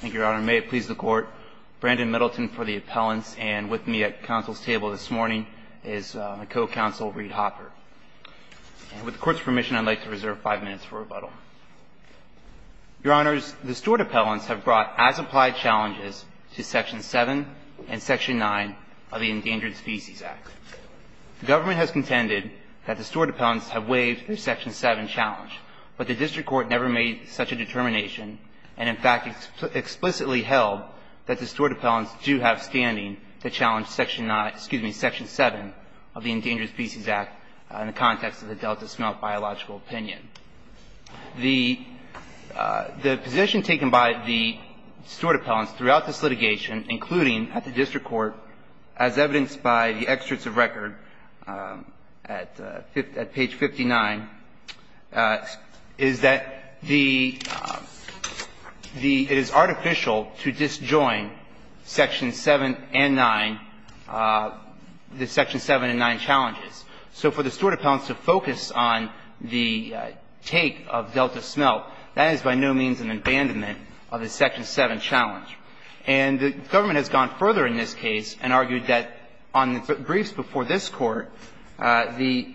Thank you, Your Honor. May it please the Court, Brandon Middleton for the appellants, and with me at counsel's table this morning is my co-counsel Reed Hopper. And with the Court's permission, I'd like to reserve five minutes for rebuttal. Your Honors, the steward appellants have brought as-applied challenges to Section 7 and Section 9 of the Endangered Species Act. The government has contended that the steward appellants have waived their Section 7 challenge, but the District Court never made such a determination and, in fact, explicitly held that the steward appellants do have standing to challenge Section 9, excuse me, Section 7 of the Endangered Species Act in the context of the Delta smelt biological opinion. The position taken by the steward appellants throughout this litigation, including at the District Court, as evidenced by the excerpts of record at page 59, is that the – it is artificial to disjoin Section 7 and 9, the Section 7 and 9 challenges. So for the steward appellants to focus on the take of Delta smelt, that is by no means an abandonment of the Section 7 challenge. And the government has gone further in this case and argued that on briefs before this Court, the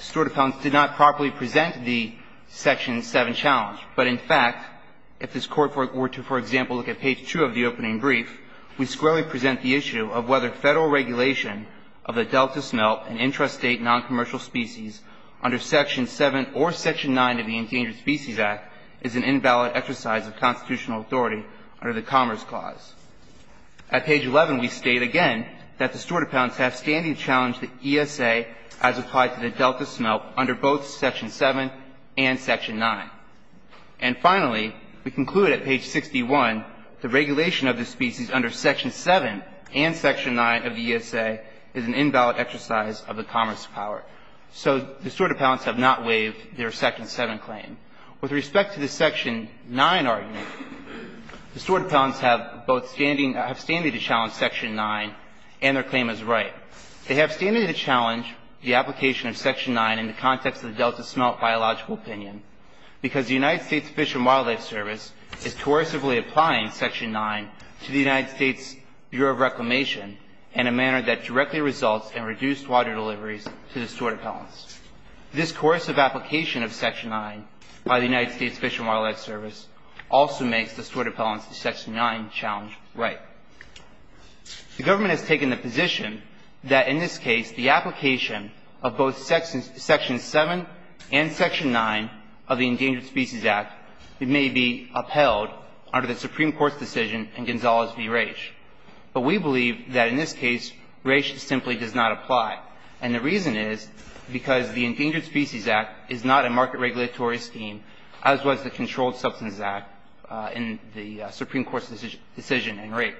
steward appellants did not properly present the Section 7 challenge. But, in fact, if this Court were to, for example, look at page 2 of the opening brief, we squarely present the issue of whether Federal regulation of the Delta smelt and intrastate noncommercial species under Section 7 or Section 9 of the Endangered Species Act is an invalid exercise of the commerce clause. At page 11, we state again that the steward appellants have standing to challenge the ESA as applied to the Delta smelt under both Section 7 and Section 9. And finally, we conclude at page 61, the regulation of the species under Section 7 and Section 9 of the ESA is an invalid exercise of the commerce power. So the steward appellants have not waived their Section 7 claim. With respect to the Section 9 argument, the steward appellants have both standing to challenge Section 9 and their claim is right. They have standing to challenge the application of Section 9 in the context of the Delta smelt biological opinion because the United States Fish and Wildlife Service is coercively applying Section 9 to the United States Bureau of Reclamation in a manner that directly results in reduced water deliveries to the steward appellants. This coercive application of Section 9 by the United States Fish and Wildlife Service also makes the steward appellants to Section 9 challenge right. The government has taken the position that in this case, the application of both Section 7 and Section 9 of the Endangered Species Act may be upheld under the Supreme Court's decision in Gonzales v. Raich. But we believe that in this case, Raich simply does not apply. And the reason is because the Endangered Species Act is not a market regulatory scheme, as was the Controlled Substances Act in the Supreme Court's decision in Raich.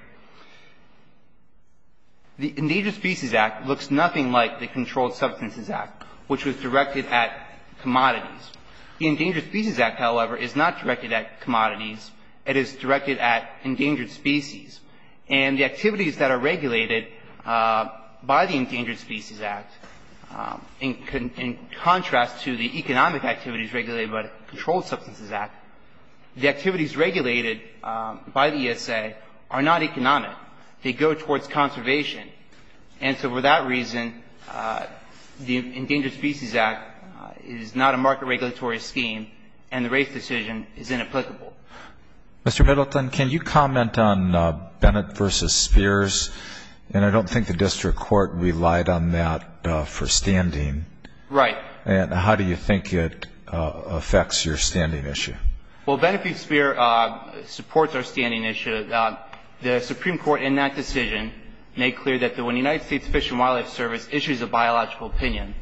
The Endangered Species Act looks nothing like the Controlled Substances Act, which was directed at commodities. The Endangered Species Act, however, is not directed at commodities. It is directed at endangered species. And the activities that are regulated by the Endangered Species Act, in contrast to the economic activities regulated by the Controlled Substances Act, the activities regulated by the ESA are not economic. They go towards conservation. And so for that reason, the Endangered Species Act is not a market regulatory scheme, and the Raich decision is inapplicable. Mr. Middleton, can you comment on Bennett v. Spears? And I don't think the district court relied on that for standing. Right. And how do you think it affects your standing issue? Well, Bennett v. Spears supports our standing issue. The Supreme Court in that decision made clear that when the United States Fish and Wildlife Service issues a biological opinion,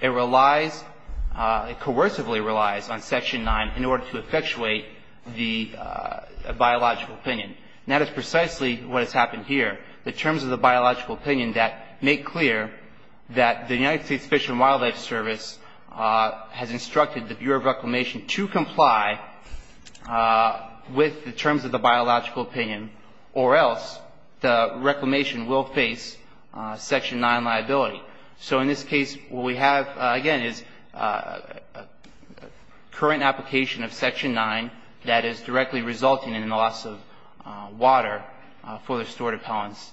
it relies, it coercively relies on Section 9 in order to effectuate the biological opinion. And that is precisely what has happened here. The terms of the biological opinion that make clear that the United States Fish and Wildlife Service has instructed the Bureau of Reclamation to comply with the terms of the biological opinion, or else the Reclamation will face Section 9 liability. So in this case, what we have, again, is a current application of Section 9 that is directly resulting in the loss of water for the restored appellants.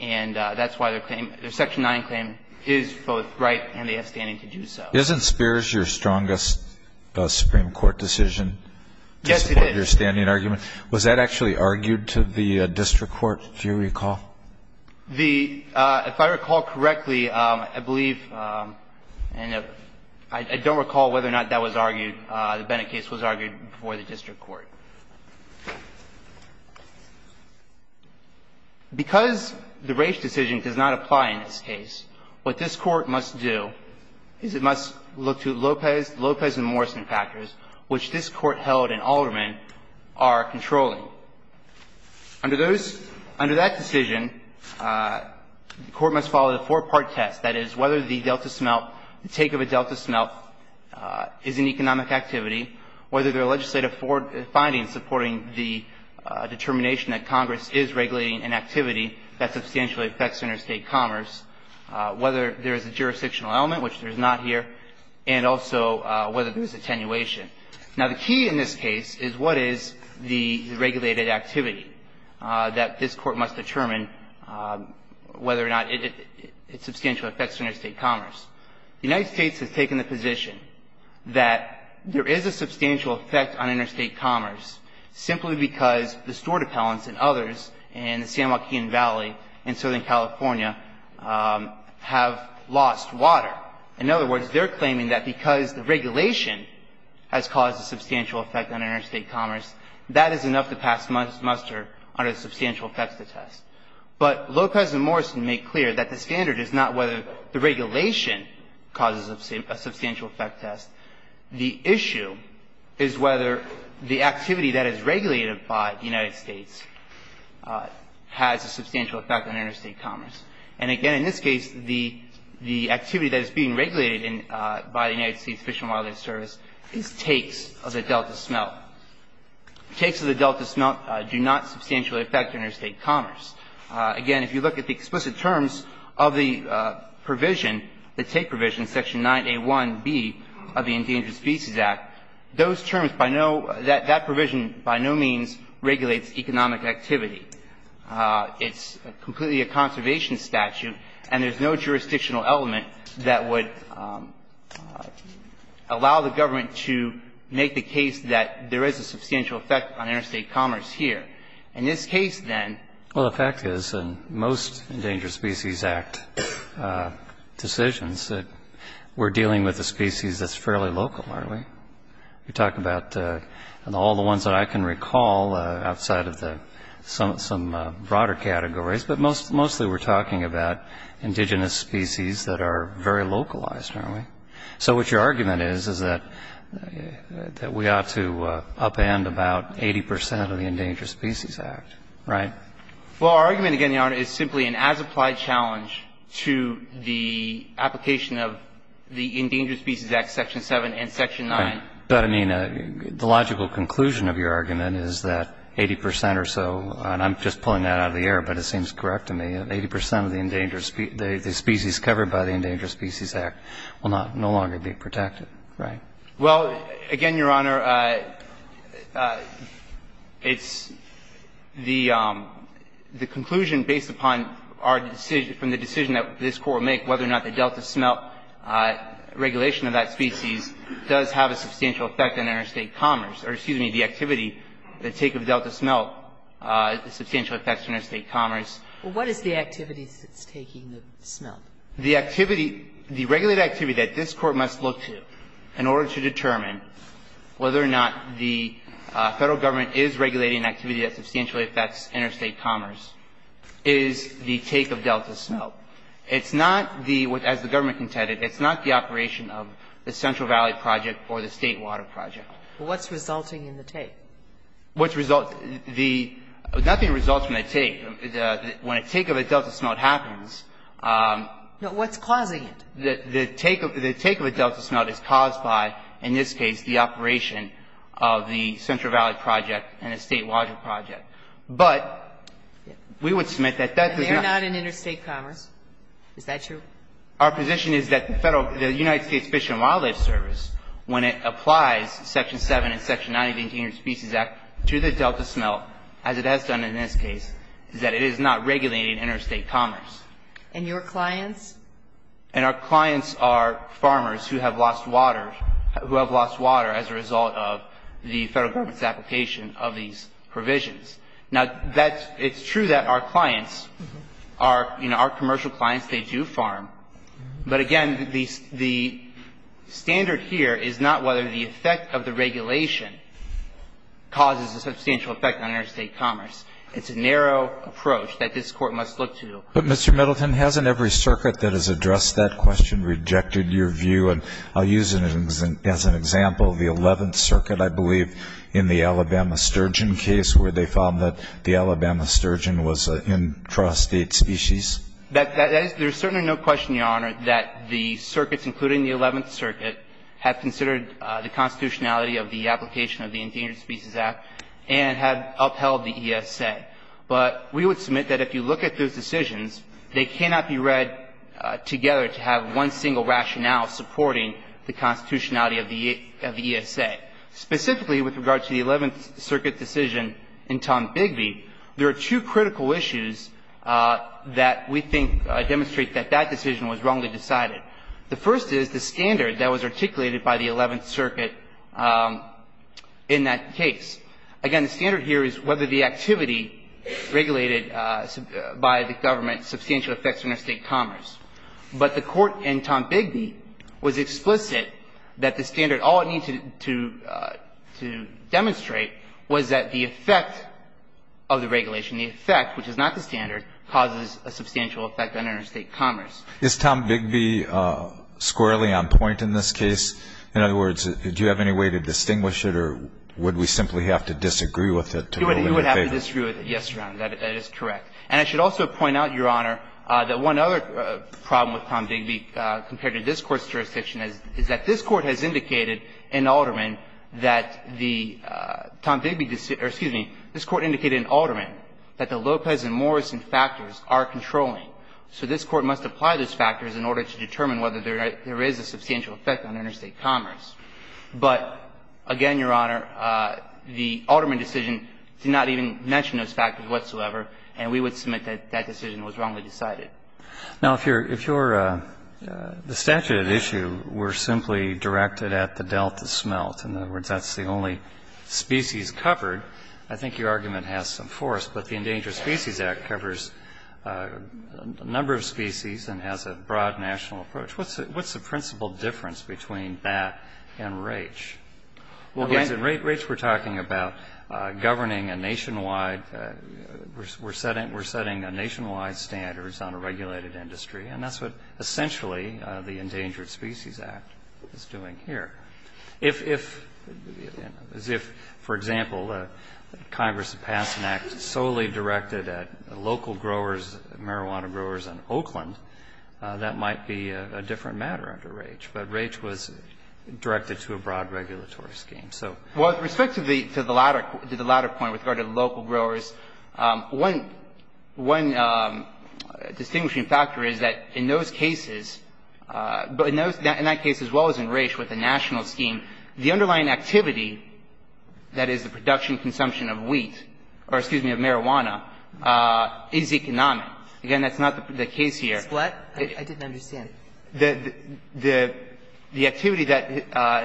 And that's why their claim, their Section 9 claim is both right and they have standing to do so. Isn't Spears your strongest Supreme Court decision to support your standing argument? Yes, he is. Was that actually argued to the district court, do you recall? The, if I recall correctly, I believe, and I don't recall whether or not that was argued, the Bennett case was argued before the district court. Because the Raich decision does not apply in this case, what this Court must do is it must look to Lopez and Morrison factors, which this Court held in Alderman are controlling. Under those, under that decision, the Court must follow the four-part test. That is, whether the Delta smelt, the take of a Delta smelt is an economic activity, whether there are legislative findings supporting the determination that Congress is regulating an activity that substantially affects interstate commerce, whether there is a jurisdictional element, which there is not here, and also whether there is attenuation. Now, the key in this case is what is the regulated activity that this Court must determine whether or not it substantially affects interstate commerce. The United States has taken the position that there is a substantial effect on interstate commerce simply because the store dependents and others in the San Joaquin Valley in Southern California have lost water. Now, in other words, they're claiming that because the regulation has caused a substantial effect on interstate commerce, that is enough to pass muster under the substantial effects of the test. But Lopez and Morrison make clear that the standard is not whether the regulation causes a substantial effect test. The issue is whether the activity that is regulated by the United States has a substantial effect on interstate commerce. And again, in this case, the activity that is being regulated by the United States Fish and Wildlife Service is takes of the Delta Smelt. Takes of the Delta Smelt do not substantially affect interstate commerce. Again, if you look at the explicit terms of the provision, the take provision, Section 9A1B of the Endangered Species Act, those terms by no – that provision by no means regulates economic activity. It's completely a conservation statute, and there's no jurisdictional element that would allow the government to make the case that there is a substantial effect on interstate commerce here. In this case, then – Well, the fact is, in most Endangered Species Act decisions, that we're dealing with a species that's fairly local, aren't we? You're talking about all the ones that I can recall outside of the – some broader categories, but mostly we're talking about indigenous species that are very localized, aren't we? So what your argument is, is that we ought to upend about 80 percent of the Endangered Species Act, right? Well, our argument, again, Your Honor, is simply an as-applied challenge to the application of the Endangered Species Act, Section 7 and Section 9. But, I mean, the logical conclusion of your argument is that 80 percent or so – and I'm just pulling that out of the air, but it seems correct to me – 80 percent of the Endangered – the species covered by the Endangered Species Act will no longer be protected, right? Well, again, Your Honor, it's the conclusion based upon our – from the decision that this Court will make whether or not the Delta Smelt regulation of that species does have a substantial effect on interstate commerce – or, excuse me, the activity that take of Delta Smelt has substantial effects on interstate commerce. Well, what is the activity that's taking the smelt? The activity – the regulated activity that this Court must look to in order to determine whether or not the Federal Government is regulating an activity that substantially affects interstate commerce is the take of Delta Smelt. It's not the – as the government intended, it's not the operation of the Central Valley Project or the State Water Project. What's resulting in the take? What's resulting – the – nothing results from the take. When a take of a Delta Smelt happens – No. What's causing it? The take of a Delta Smelt is caused by, in this case, the operation of the Central Valley Project. But we would submit that that does not – They're not in interstate commerce. Is that true? Our position is that the Federal – the United States Fish and Wildlife Service, when it applies Section 7 and Section 98 of the Indian Species Act to the Delta Smelt, as it has done in this case, is that it is not regulating interstate commerce. And your clients? The Federal Government's application of these provisions. Now, that's – it's true that our clients are – you know, our commercial clients, they do farm. But again, the standard here is not whether the effect of the regulation causes a substantial effect on interstate commerce. It's a narrow approach that this Court must look to. But, Mr. Middleton, hasn't every circuit that has addressed that question rejected your view? And I'll use it as an example. The Eleventh Circuit, I believe, in the Alabama Sturgeon case, where they found that the Alabama Sturgeon was an intrastate species. That is – there is certainly no question, Your Honor, that the circuits, including the Eleventh Circuit, have considered the constitutionality of the application of the Endangered Species Act and have upheld the ESA. But we would submit that if you look at those decisions, they cannot be read together to have one single rationale supporting the constitutionality of the ESA. Specifically, with regard to the Eleventh Circuit decision in Tom Bigby, there are two critical issues that we think demonstrate that that decision was wrongly decided. The first is the standard that was articulated by the Eleventh Circuit in that case. Again, the standard here is whether the activity regulated by the government substantially affects interstate commerce. But the Court in Tom Bigby was explicit that the standard, all it needed to demonstrate was that the effect of the regulation, the effect, which is not the standard, causes a substantial effect on interstate commerce. Is Tom Bigby squarely on point in this case? In other words, do you have any way to distinguish it or would we simply have to disagree with it to rule it in your favor? You would have to disagree with it, yes, Your Honor. That is correct. And I should also point out, Your Honor, that one other problem with Tom Bigby compared to this Court's jurisdiction is that this Court has indicated in Alderman that the Tom Bigby decision or, excuse me, this Court indicated in Alderman that the Lopez and Morrison factors are controlling. So this Court must apply those factors in order to determine whether there is a substantial effect on interstate commerce. But again, Your Honor, the Alderman decision did not even mention those factors whatsoever, and we would submit that that decision was wrongly decided. Now, if you're the statute at issue, we're simply directed at the delta smelt. In other words, that's the only species covered. I think your argument has some force, but the Endangered Species Act covers a number of species and has a broad national approach. What's the principal difference between that and REACH? In REACH, we're talking about governing a nationwide we're setting a nationwide standards on a regulated industry, and that's what essentially the Endangered Species Act is doing here. If, as if, for example, Congress passed an act solely directed at local growers, marijuana growers in Oakland, that might be a different matter under REACH. But REACH was directed to a broad regulatory scheme, so. Well, with respect to the latter point with regard to local growers, one distinguishing factor is that in those cases, in that case as well as in REACH with the national scheme, the underlying activity, that is, the production and consumption of wheat or, excuse me, of marijuana, is economic. Again, that's not the case here. I didn't understand. The activity that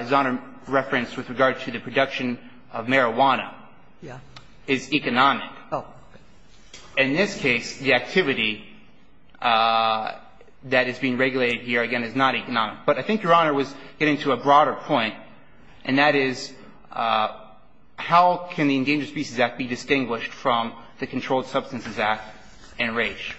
His Honor referenced with regard to the production of marijuana is economic. Oh. In this case, the activity that is being regulated here, again, is not economic. But I think Your Honor was getting to a broader point, and that is, how can the Endangered Species Act be distinguished from the Controlled Substances Act and REACH?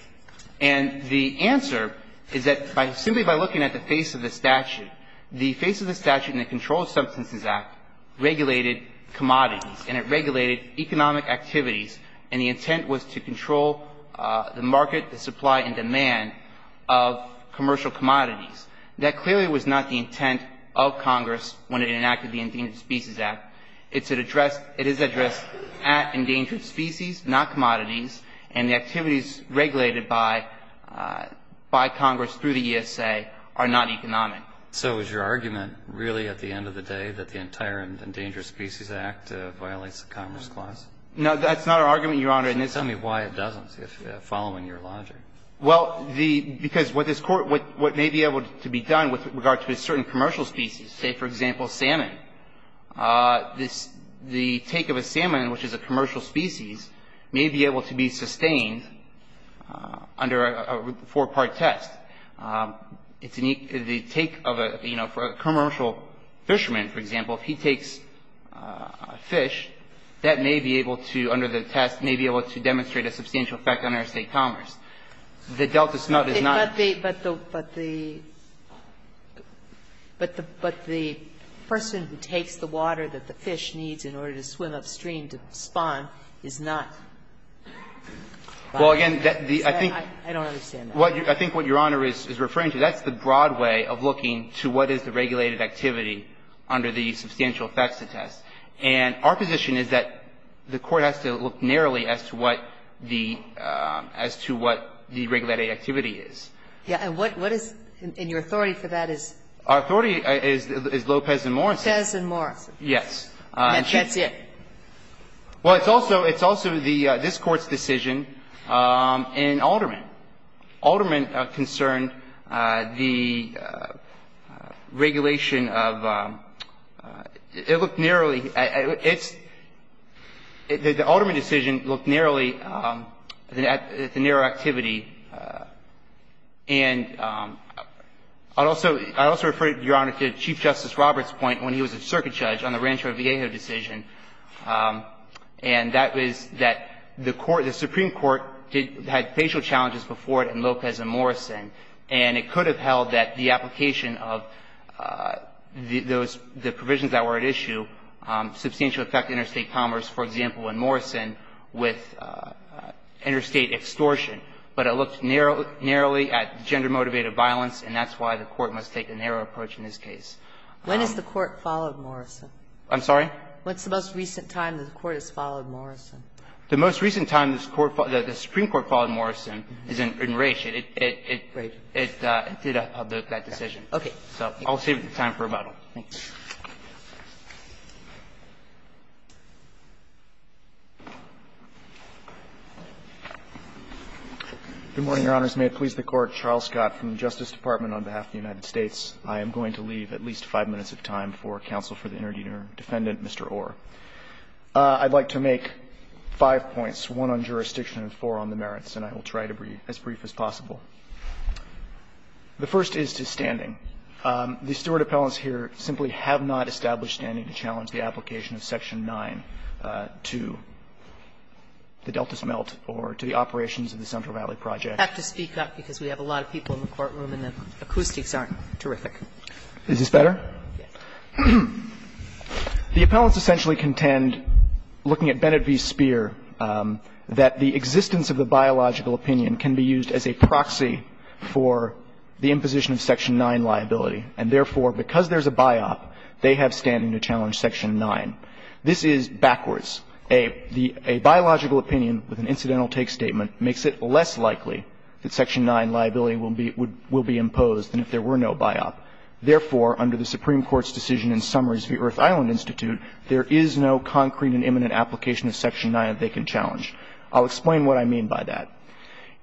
And the answer is that simply by looking at the face of the statute, the face of the statute in the Controlled Substances Act regulated commodities, and it regulated economic activities, and the intent was to control the market, the supply and demand of commercial commodities. That clearly was not the intent of Congress when it enacted the Endangered Species Act. It's addressed at endangered species, not commodities, and the activities regulated by Congress through the ESA are not economic. So is your argument really, at the end of the day, that the entire Endangered Species Act violates the Commerce Clause? No, that's not our argument, Your Honor. Tell me why it doesn't, following your logic. Well, because what this Court – what may be able to be done with regard to a certain commercial species, say, for example, salmon, the take of a salmon, which is a commercial species, may be able to be sustained under a four-part test. It's an – the take of a – you know, for a commercial fisherman, for example, if he takes a fish, that may be able to, under the test, may be able to demonstrate a substantial effect on our state commerce. The delta smelt is not the – But the person who takes the water that the fish needs in order to swim upstream to spawn is not. Well, again, the – I think – I don't understand that. I think what Your Honor is referring to, that's the broad way of looking to what is the regulated activity under the substantial effects of the test. And our position is that the Court has to look narrowly as to what the – as to what the regulated activity is. Yeah. And what is – and your authority for that is? Our authority is Lopez and Morrison. Lopez and Morrison. Yes. That's it. Well, it's also – it's also the – this Court's decision in Alderman. Alderman concerned the regulation of – it looked narrowly – it's – the Alderman decision looked narrowly at the narrow activity. And I'd also – I'd also refer, Your Honor, to Chief Justice Roberts' point when he was a circuit judge on the Rancho Viejo decision, and that was that the court – the Supreme Court had facial challenges before it in Lopez and Morrison. And it could have held that the application of those – the provisions that were at issue substantially affected interstate commerce, for example, in Morrison with interstate extortion. But it looked narrowly at gender-motivated violence, and that's why the Court must take a narrow approach in this case. When has the Court followed Morrison? I'm sorry? When's the most recent time the Court has followed Morrison? The most recent time the Supreme Court followed Morrison is in Raich. Raich. It did that decision. Okay. So I'll save time for rebuttal. Thank you. Good morning, Your Honors. May it please the Court. Charles Scott from the Justice Department on behalf of the United States. I am going to leave at least five minutes of time for counsel for the interdefendant, Mr. Orr. I'd like to make five points, one on jurisdiction and four on the merits, and I will try to be as brief as possible. The first is to standing. The steward appellants here simply have not established standing to challenge the application of section 9 to the Delta smelt or to the operations of the Central Valley Project. I have to speak up because we have a lot of people in the courtroom and the acoustics aren't terrific. Is this better? Yes. The appellants essentially contend, looking at Bennett v. Speer, that the existence of the biological opinion can be used as a proxy for the imposition of section 9 liability, and therefore, because there's a biop, they have standing to challenge section 9. This is backwards. A biological opinion with an incidental take statement makes it less likely that section 9 liability will be imposed than if there were no biop. Therefore, under the Supreme Court's decision in summaries of the Earth Island Institute, there is no concrete and imminent application of section 9 that they can challenge. I'll explain what I mean by that.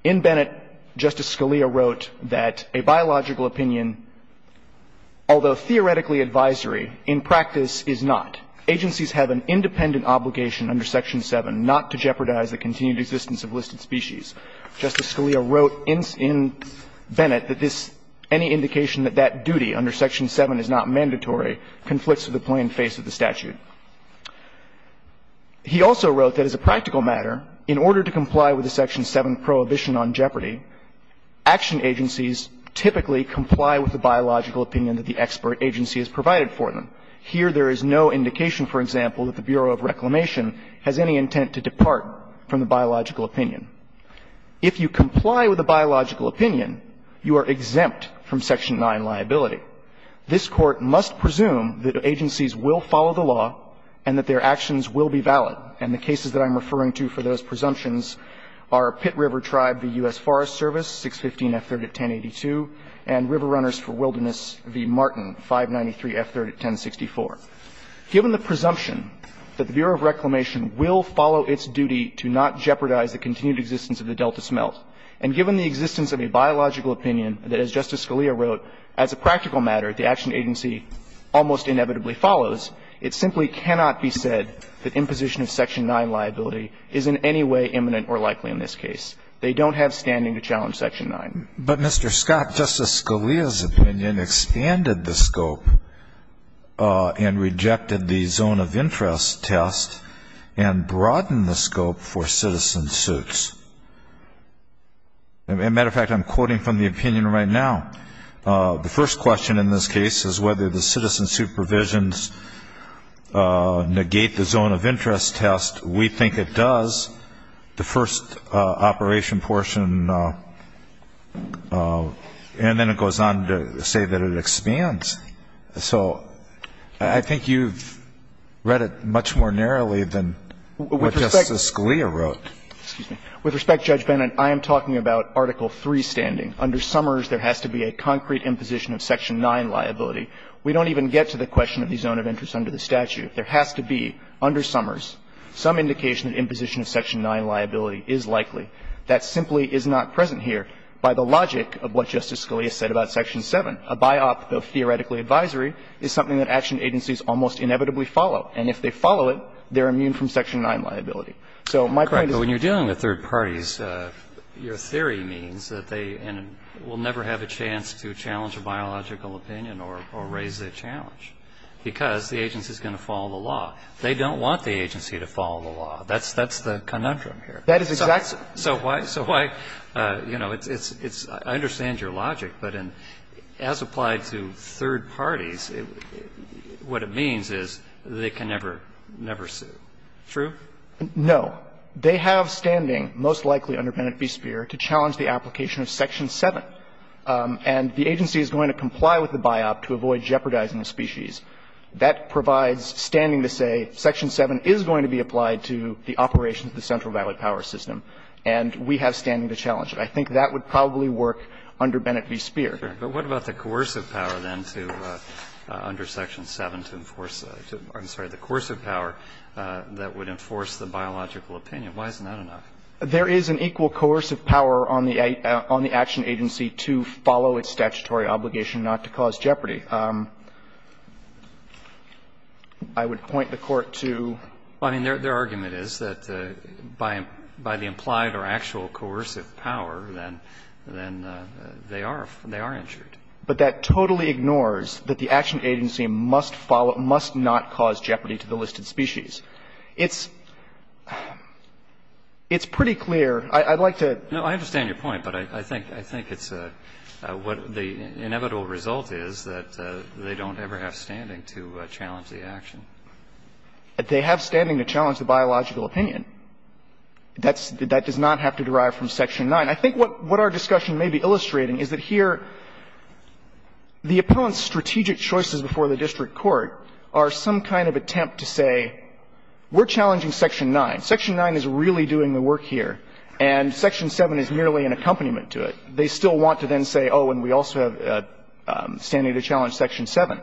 In Bennett, Justice Scalia wrote that a biological opinion, although theoretically advisory, in practice is not. Agencies have an independent obligation under section 7 not to jeopardize the continued existence of listed species. Justice Scalia wrote in Bennett that this any indication that that duty under section 7 is not mandatory conflicts with the plain face of the statute. He also wrote that as a practical matter, in order to comply with the section 7 prohibition on jeopardy, action agencies typically comply with the biological opinion that the expert agency has provided for them. Here there is no indication, for example, that the Bureau of Reclamation has any intent to depart from the biological opinion. If you comply with the biological opinion, you are exempt from section 9 liability. This Court must presume that agencies will follow the law and that their actions will be valid. And the cases that I'm referring to for those presumptions are Pitt River Tribe v. U.S. Forest Service, 615 F3rd at 1082, and River Runners for Wilderness v. Martin, 593 F3rd at 1064. Given the presumption that the Bureau of Reclamation will follow its duty to not jeopardize the continued existence of the Delta smelt, and given the existence of a biological opinion that, as Justice Scalia wrote, as a practical matter, the action agency almost inevitably follows, it simply cannot be said that imposition of section 9 liability is in any way imminent or likely in this case. They don't have standing to challenge section 9. But, Mr. Scott, Justice Scalia's opinion expanded the scope and rejected the zone of interest test and broadened the scope for citizen suits. As a matter of fact, I'm quoting from the opinion right now. The first question in this case is whether the citizen suit provisions negate the zone of interest test. We think it does. The first operation portion, and then it goes on to say that it expands. So I think you've read it much more narrowly than what Justice Scalia wrote. Excuse me. With respect, Judge Bennett, I am talking about Article III standing. Under Summers, there has to be a concrete imposition of section 9 liability. We don't even get to the question of the zone of interest under the statute. There has to be, under Summers, some indication that imposition of section 9 liability is likely. That simply is not present here by the logic of what Justice Scalia said about section 7. A biop of theoretically advisory is something that action agencies almost inevitably follow. And if they follow it, they're immune from section 9 liability. So my point is that when you're dealing with third parties, your theory means that they will never have a chance to challenge a biological opinion or raise a challenge, because the agency is going to follow the law. They don't want the agency to follow the law. That's the conundrum here. That is exactly. So why? So why? You know, it's – I understand your logic, but as applied to third parties, what it means is they can never sue. True? No. They have standing, most likely under Bennett v. Speer, to challenge the application of section 7. And the agency is going to comply with the biop to avoid jeopardizing the species. That provides standing to say section 7 is going to be applied to the operations of the Central Valley Power System. And we have standing to challenge it. I think that would probably work under Bennett v. Speer. But what about the coercive power then to – under section 7 to enforce – I'm sorry, the coercive power that would enforce the biological opinion? Why isn't that enough? There is an equal coercive power on the action agency to follow its statutory obligation not to cause jeopardy. I would point the Court to – I mean, their argument is that by the implied or actual coercive power, then they are injured. But that totally ignores that the action agency must not cause jeopardy to the listed species. It's pretty clear. I'd like to – No, I understand your point. But I think it's what the inevitable result is that they don't ever have standing to challenge the action. They have standing to challenge the biological opinion. That does not have to derive from section 9. I think what our discussion may be illustrating is that here the appellant's We're challenging section 9. Section 9 is really doing the work here. And section 7 is merely an accompaniment to it. They still want to then say, oh, and we also have standing to challenge section 7.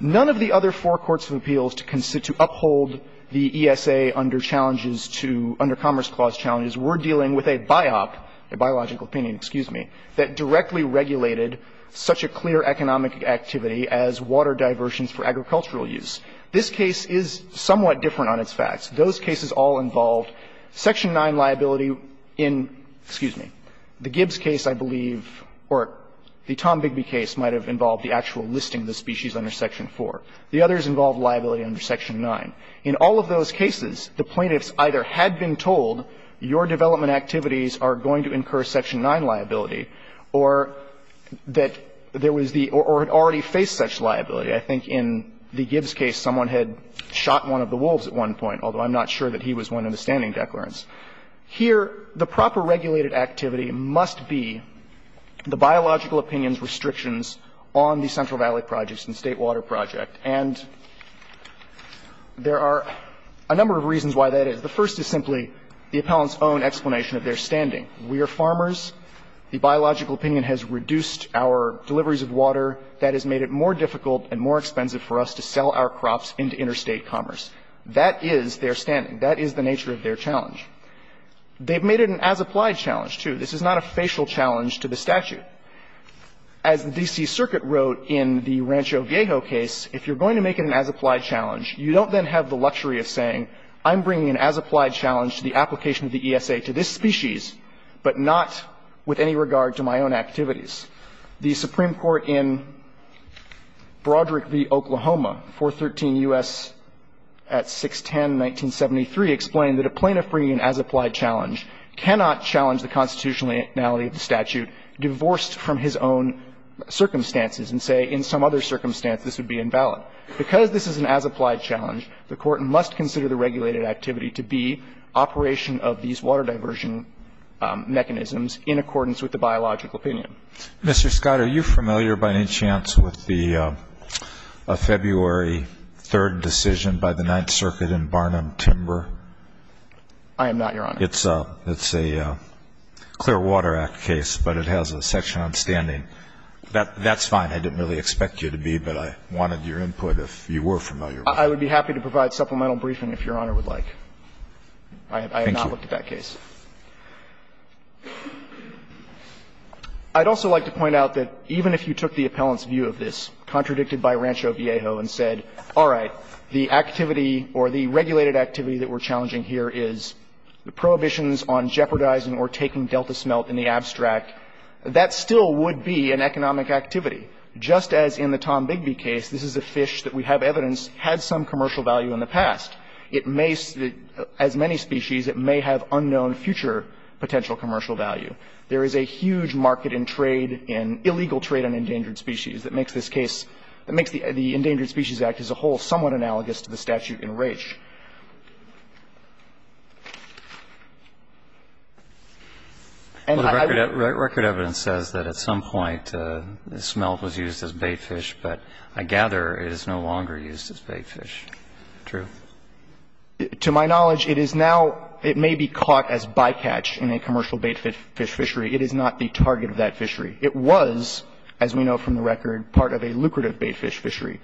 None of the other four courts of appeals to uphold the ESA under challenges to – under Commerce Clause challenges, we're dealing with a biop, a biological opinion, excuse me, that directly regulated such a clear economic activity as water diversions for agricultural use. This case is somewhat different on its facts. Those cases all involved section 9 liability in, excuse me, the Gibbs case, I believe, or the Tom Bigby case might have involved the actual listing of the species under section 4. The others involved liability under section 9. In all of those cases, the plaintiffs either had been told your development activities are going to incur section 9 liability or that there was the – or had already faced such liability. I think in the Gibbs case, someone had shot one of the wolves at one point, although I'm not sure that he was one in the standing declarants. Here, the proper regulated activity must be the biological opinion's restrictions on the Central Valley Projects and State Water Project. And there are a number of reasons why that is. The first is simply the appellant's own explanation of their standing. The biological opinion has reduced our deliveries of water. That has made it more difficult and more expensive for us to sell our crops into interstate commerce. That is their standing. That is the nature of their challenge. They've made it an as-applied challenge, too. This is not a facial challenge to the statute. As the D.C. Circuit wrote in the Rancho Viejo case, if you're going to make it an as-applied challenge, you don't then have the luxury of saying, I'm bringing an as-applied challenge to the application of the ESA to this species, but not with any regard to my own activities. The Supreme Court in Broderick v. Oklahoma, 413 U.S. at 610, 1973, explained that a plaintiff bringing an as-applied challenge cannot challenge the constitutionality of the statute divorced from his own circumstances and say, in some other circumstances, this would be invalid. Because this is an as-applied challenge, the court must consider the regulated activity to be operation of these water diversion mechanisms in accordance with the biological opinion. Mr. Scott, are you familiar by any chance with the February 3rd decision by the Ninth Circuit in Barnum-Timber? I am not, Your Honor. It's a Clear Water Act case, but it has a section on standing. That's fine. I didn't really expect you to be, but I wanted your input if you were familiar. I would be happy to provide supplemental briefing if Your Honor would like. I have not looked at that case. I'd also like to point out that even if you took the appellant's view of this, contradicted by Rancho Viejo, and said, all right, the activity or the regulated activity that we're challenging here is the prohibitions on jeopardizing or taking delta smelt in the abstract, that still would be an economic activity. Just as in the Tom Bigby case, this is a fish that we have evidence had some commercial value in the past. There is a huge market in trade, in illegal trade on endangered species that makes this case, that makes the Endangered Species Act as a whole somewhat analogous to the statute in Rache. And I would be unable to comment on that. Well, the record evidence says that at some point the smelt was used as baitfish, but I gather it is no longer used as baitfish. True? To my knowledge, it is now, it may be caught as bycatch in a commercial baitfish fishery. It is not the target of that fishery. It was, as we know from the record, part of a lucrative baitfish fishery.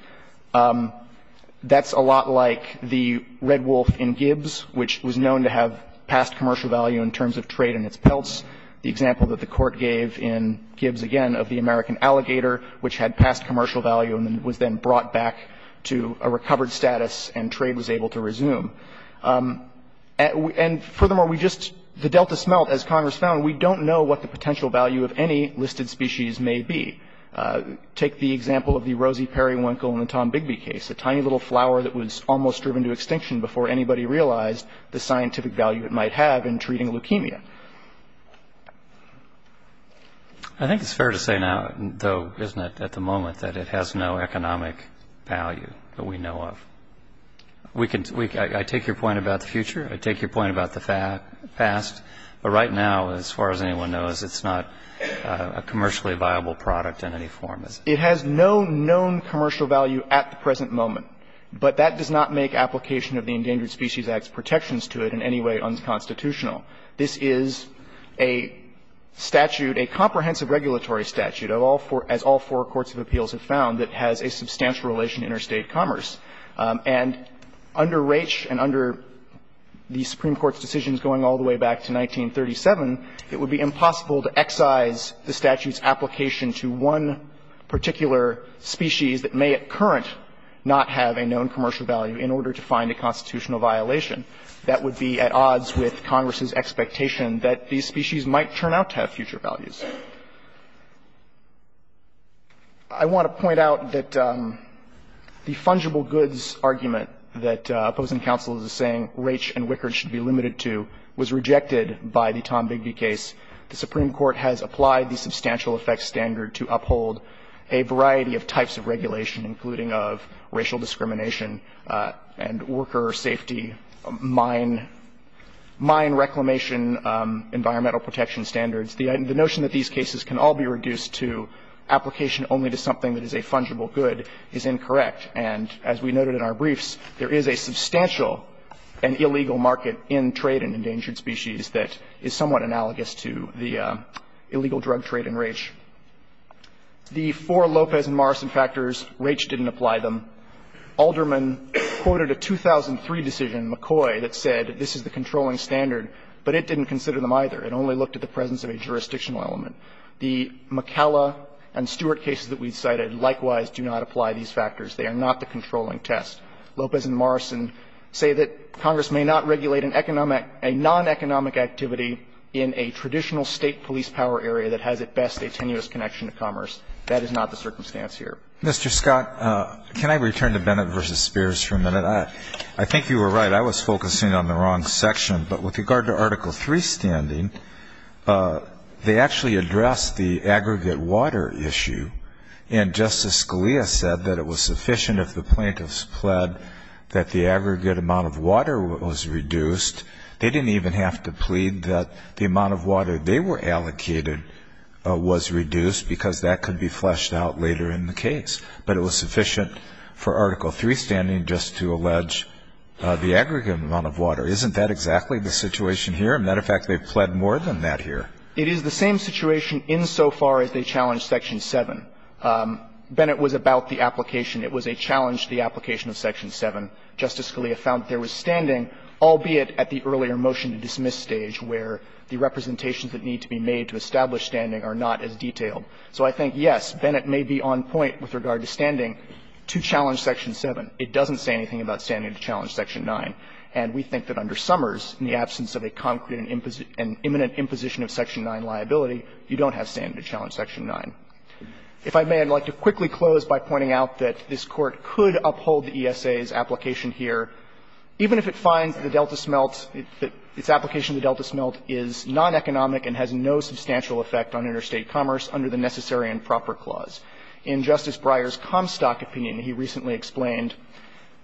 That's a lot like the red wolf in Gibbs, which was known to have past commercial value in terms of trade and its pelts. The example that the Court gave in Gibbs, again, of the American alligator, which had past commercial value and was then brought back to a recovered status and trade was able to resume. And furthermore, we just, the delta smelt, as Congress found, we don't know what the potential value of any listed species may be. Take the example of the rosy periwinkle in the Tom Bigby case, a tiny little flower that was almost driven to extinction before anybody realized the scientific value it might have in treating leukemia. I think it's fair to say now, though, isn't it, at the moment, that it has no I take your point about the future. I take your point about the past. But right now, as far as anyone knows, it's not a commercially viable product in any form. It has no known commercial value at the present moment. But that does not make application of the Endangered Species Act's protections to it in any way unconstitutional. This is a statute, a comprehensive regulatory statute, as all four courts of appeals have found, that has a substantial relation to interstate commerce. And under Raich and under the Supreme Court's decisions going all the way back to 1937, it would be impossible to excise the statute's application to one particular species that may at current not have a known commercial value in order to find a constitutional violation. That would be at odds with Congress's expectation that these species might turn out to have future values. I want to point out that the fungible goods argument that opposing counsel is saying Raich and Wickard should be limited to was rejected by the Tom Bigby case. The Supreme Court has applied the substantial effects standard to uphold a variety of types of regulation, including of racial discrimination and worker safety, mine reclamation, environmental protection standards. The notion that these cases can all be reduced to application only to something that is a fungible good is incorrect. And as we noted in our briefs, there is a substantial and illegal market in trade in endangered species that is somewhat analogous to the illegal drug trade in Raich. The four Lopez and Morrison factors, Raich didn't apply them. Alderman quoted a 2003 decision, McCoy, that said this is the controlling standard, but it didn't consider them either. It only looked at the presence of a jurisdictional element. The McKella and Stewart cases that we cited likewise do not apply these factors. They are not the controlling test. Lopez and Morrison say that Congress may not regulate an economic, a non-economic activity in a traditional State police power area that has at best a tenuous connection to commerce. That is not the circumstance here. Alito, Mr. Scott, can I return to Bennett v. Spears for a minute? I think you were right. I was focusing on the wrong section. But with regard to Article III standing, they actually address the aggregate water issue. And Justice Scalia said that it was sufficient if the plaintiffs pled that the aggregate amount of water was reduced. They didn't even have to plead that the amount of water they were allocated was reduced because that could be fleshed out later in the case. But it was sufficient for Article III standing just to allege the aggregate amount of water. Isn't that exactly the situation here? As a matter of fact, they've pled more than that here. It is the same situation insofar as they challenge Section 7. Bennett was about the application. It was a challenge to the application of Section 7. Justice Scalia found that there was standing, albeit at the earlier motion to dismiss stage, where the representations that need to be made to establish standing are not as detailed. So I think, yes, Bennett may be on point with regard to standing to challenge Section 7. It doesn't say anything about standing to challenge Section 9. And we think that under Summers, in the absence of a concrete and imminent imposition of Section 9 liability, you don't have standing to challenge Section 9. If I may, I'd like to quickly close by pointing out that this Court could uphold the ESA's application here, even if it finds the Delta smelt, its application of the Delta smelt is non-economic and has no substantial effect on interstate commerce under the Necessary and Proper Clause. In Justice Breyer's Comstock opinion, he recently explained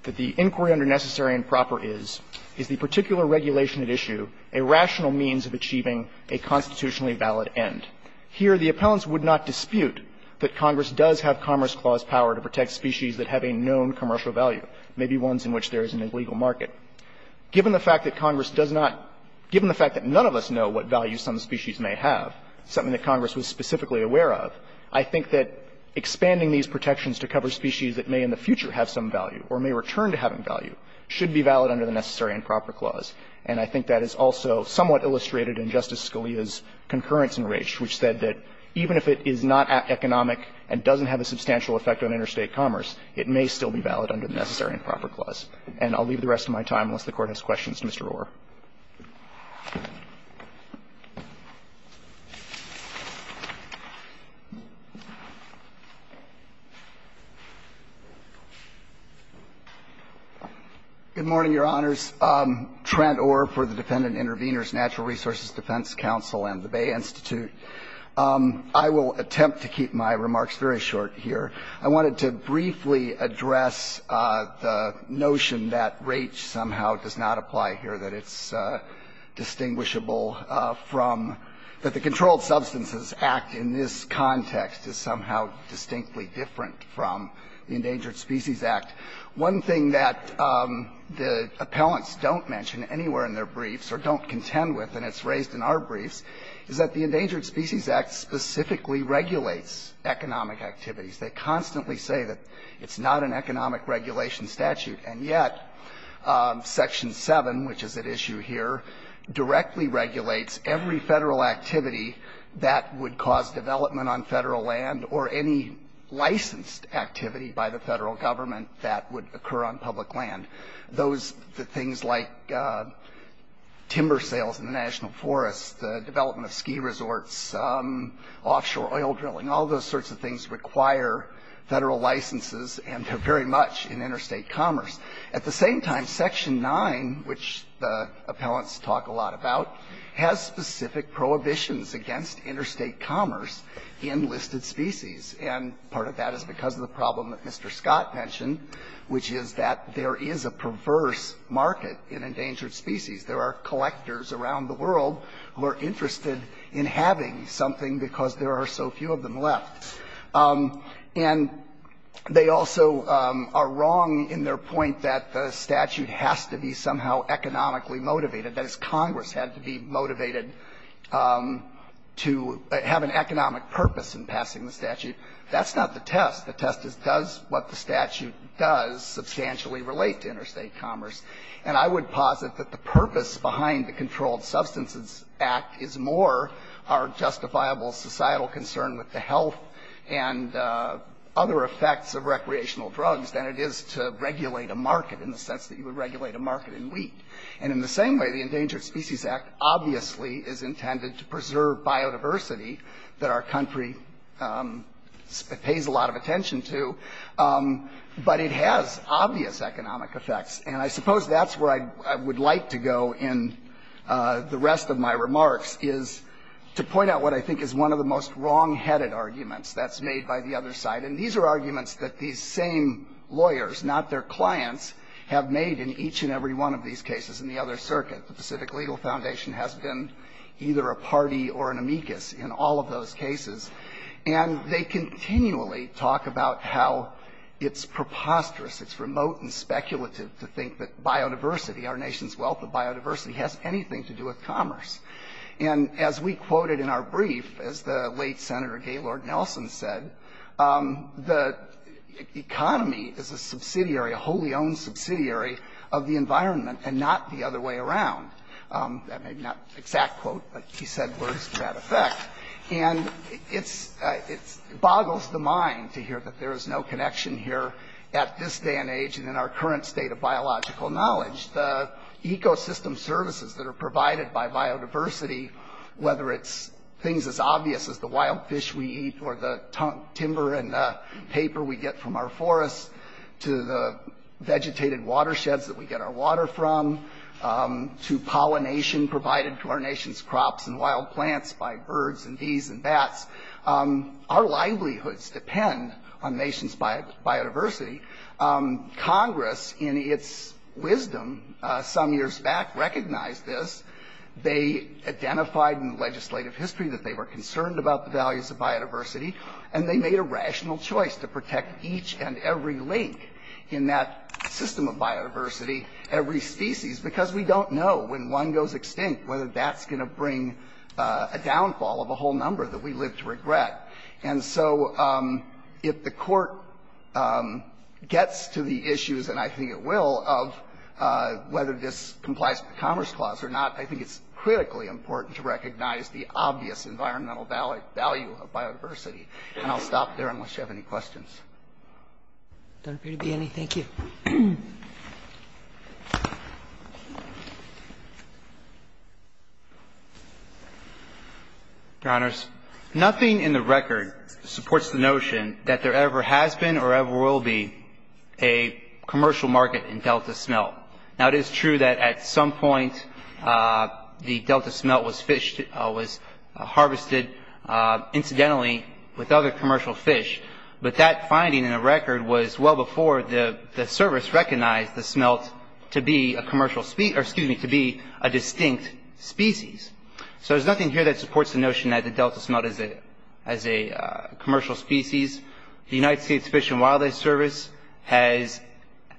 that the inquiry under the Necessary and Proper is, is the particular regulation at issue a rational means of achieving a constitutionally valid end. Here, the appellants would not dispute that Congress does have Commerce Clause power to protect species that have a known commercial value, maybe ones in which there is an illegal market. Given the fact that Congress does not – given the fact that none of us know what value some species may have, something that Congress was specifically aware of, I think that expanding these protections to cover species that may in the future have some value should be valid under the Necessary and Proper Clause. And I think that is also somewhat illustrated in Justice Scalia's concurrence in Raich, which said that even if it is not economic and doesn't have a substantial effect on interstate commerce, it may still be valid under the Necessary and Proper Clause. And I'll leave the rest of my time, unless the Court has questions, to Mr. Rohwer. Good morning, Your Honors. Trent Rohwer for the Defendant Intervenors, Natural Resources Defense Council, and the Bay Institute. I will attempt to keep my remarks very short here. I wanted to briefly address the notion that Raich somehow does not apply here, that it is distinguishable from – that the Controlled Substances Act in this context is somehow distinctly different from the Endangered Species Act. One thing that the appellants don't mention anywhere in their briefs, or don't contend with, and it's raised in our briefs, is that the Endangered Species Act specifically regulates economic activities. They constantly say that it's not an economic regulation statute. And yet, Section 7, which is at issue here, directly regulates every federal activity that would cause development on federal land, or any licensed activity by the federal government that would occur on public land. Those – the things like timber sales in the national forests, the development of ski resorts, offshore oil drilling – all those sorts of things require federal licenses, and they're very much in interstate commerce. At the same time, Section 9, which the appellants talk a lot about, has specific prohibitions against interstate commerce in listed species. And part of that is because of the problem that Mr. Scott mentioned, which is that there is a perverse market in endangered species. There are collectors around the world who are interested in having something because there are so few of them left. And they also are wrong in their point that the statute has to be somehow economically motivated, that is, Congress had to be motivated to have an economic purpose in passing the statute. That's not the test. The test is, does what the statute does substantially relate to interstate commerce? And I would posit that the purpose behind the Controlled Substances Act is more our justifiable societal concern with the health and other effects of recreational drugs than it is to regulate a market in the sense that you would regulate a market in wheat. And in the same way, the Endangered Species Act obviously is intended to preserve biodiversity that our country pays a lot of attention to, but it has obvious economic effects. And I suppose that's where I would like to go in the rest of my remarks, is to point out what I think is one of the most wrongheaded arguments that's made by the other side. And these are arguments that these same lawyers, not their clients, have made in each and every one of these cases in the other circuit. The Pacific Legal Foundation has been either a party or an amicus in all of those cases. And they continually talk about how it's preposterous, it's remote and speculative to think that biodiversity, our nation's wealth of biodiversity, has anything to do with commerce. And as we quoted in our brief, as the late Senator Gaylord Nelson said, the economy is a subsidiary, a wholly owned subsidiary of the environment and not the other way around. That may not be an exact quote, but he said words to that effect. And it boggles the mind to hear that there is no connection here at this day and age and in our current state of biological knowledge, the ecosystem services that are provided by biodiversity, whether it's things as obvious as the wild fish we eat or the timber and paper we get from our forests, to the vegetated watersheds that we get our water from, to pollination provided to our nation's crops and wild plants by birds and bees and bats. Our livelihoods depend on the nation's biodiversity. Congress, in its wisdom some years back, recognized this. They identified in the legislative history that they were concerned about the values of biodiversity, and they made a rational choice to protect each and every link in that system of biodiversity, every species, because we don't know when one goes extinct whether that's going to bring a downfall of a whole number that we live to regret. And so if the Court gets to the issues, and I think it will, of whether this complies to the Commerce Clause or not, I think it's critically important to recognize the obvious environmental value of biodiversity. And I'll stop there unless you have any questions. Roberts. Don't appear to be any. Thank you. Your Honors, nothing in the record supports the notion that there ever has been or ever will be a commercial market in delta smelt. Now it is true that at some point the delta smelt was harvested, incidentally, with other species, but the Service recognized the smelt to be a distinct species. So there's nothing here that supports the notion that the delta smelt is a commercial species. The United States Fish and Wildlife Service has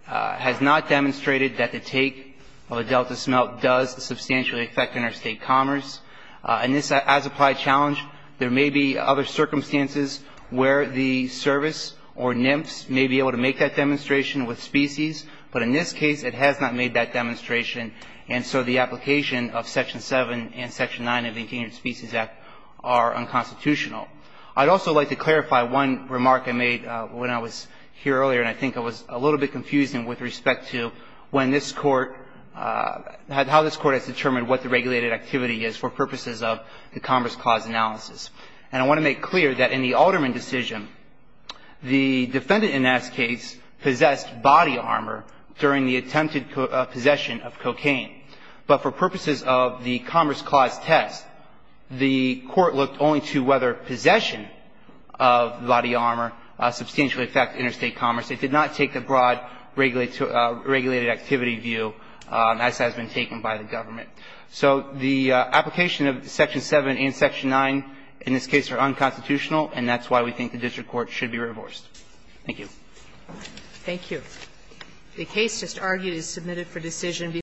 not demonstrated that the take of a delta smelt does substantially affect interstate commerce. And this, as applied challenge, there may be other circumstances where the Service or NIMFS may be able to make that demonstration with species, but in this case it has not made that demonstration. And so the application of Section 7 and Section 9 of the Engineering Species Act are unconstitutional. I'd also like to clarify one remark I made when I was here earlier, and I think it was a little bit confusing with respect to when this Court, how this Court has determined what the regulated activity is for purposes of the Commerce Clause analysis. And I want to make clear that in the Alterman decision, the defendant in that case possessed body armor during the attempted possession of cocaine. But for purposes of the Commerce Clause test, the Court looked only to whether possession of body armor substantially affected interstate commerce. It did not take a broad regulated activity view, as has been taken by the government. So the application of Section 7 and Section 9 in this case are unconstitutional, and that's why we think the District Court should be reversed. Thank you. Thank you.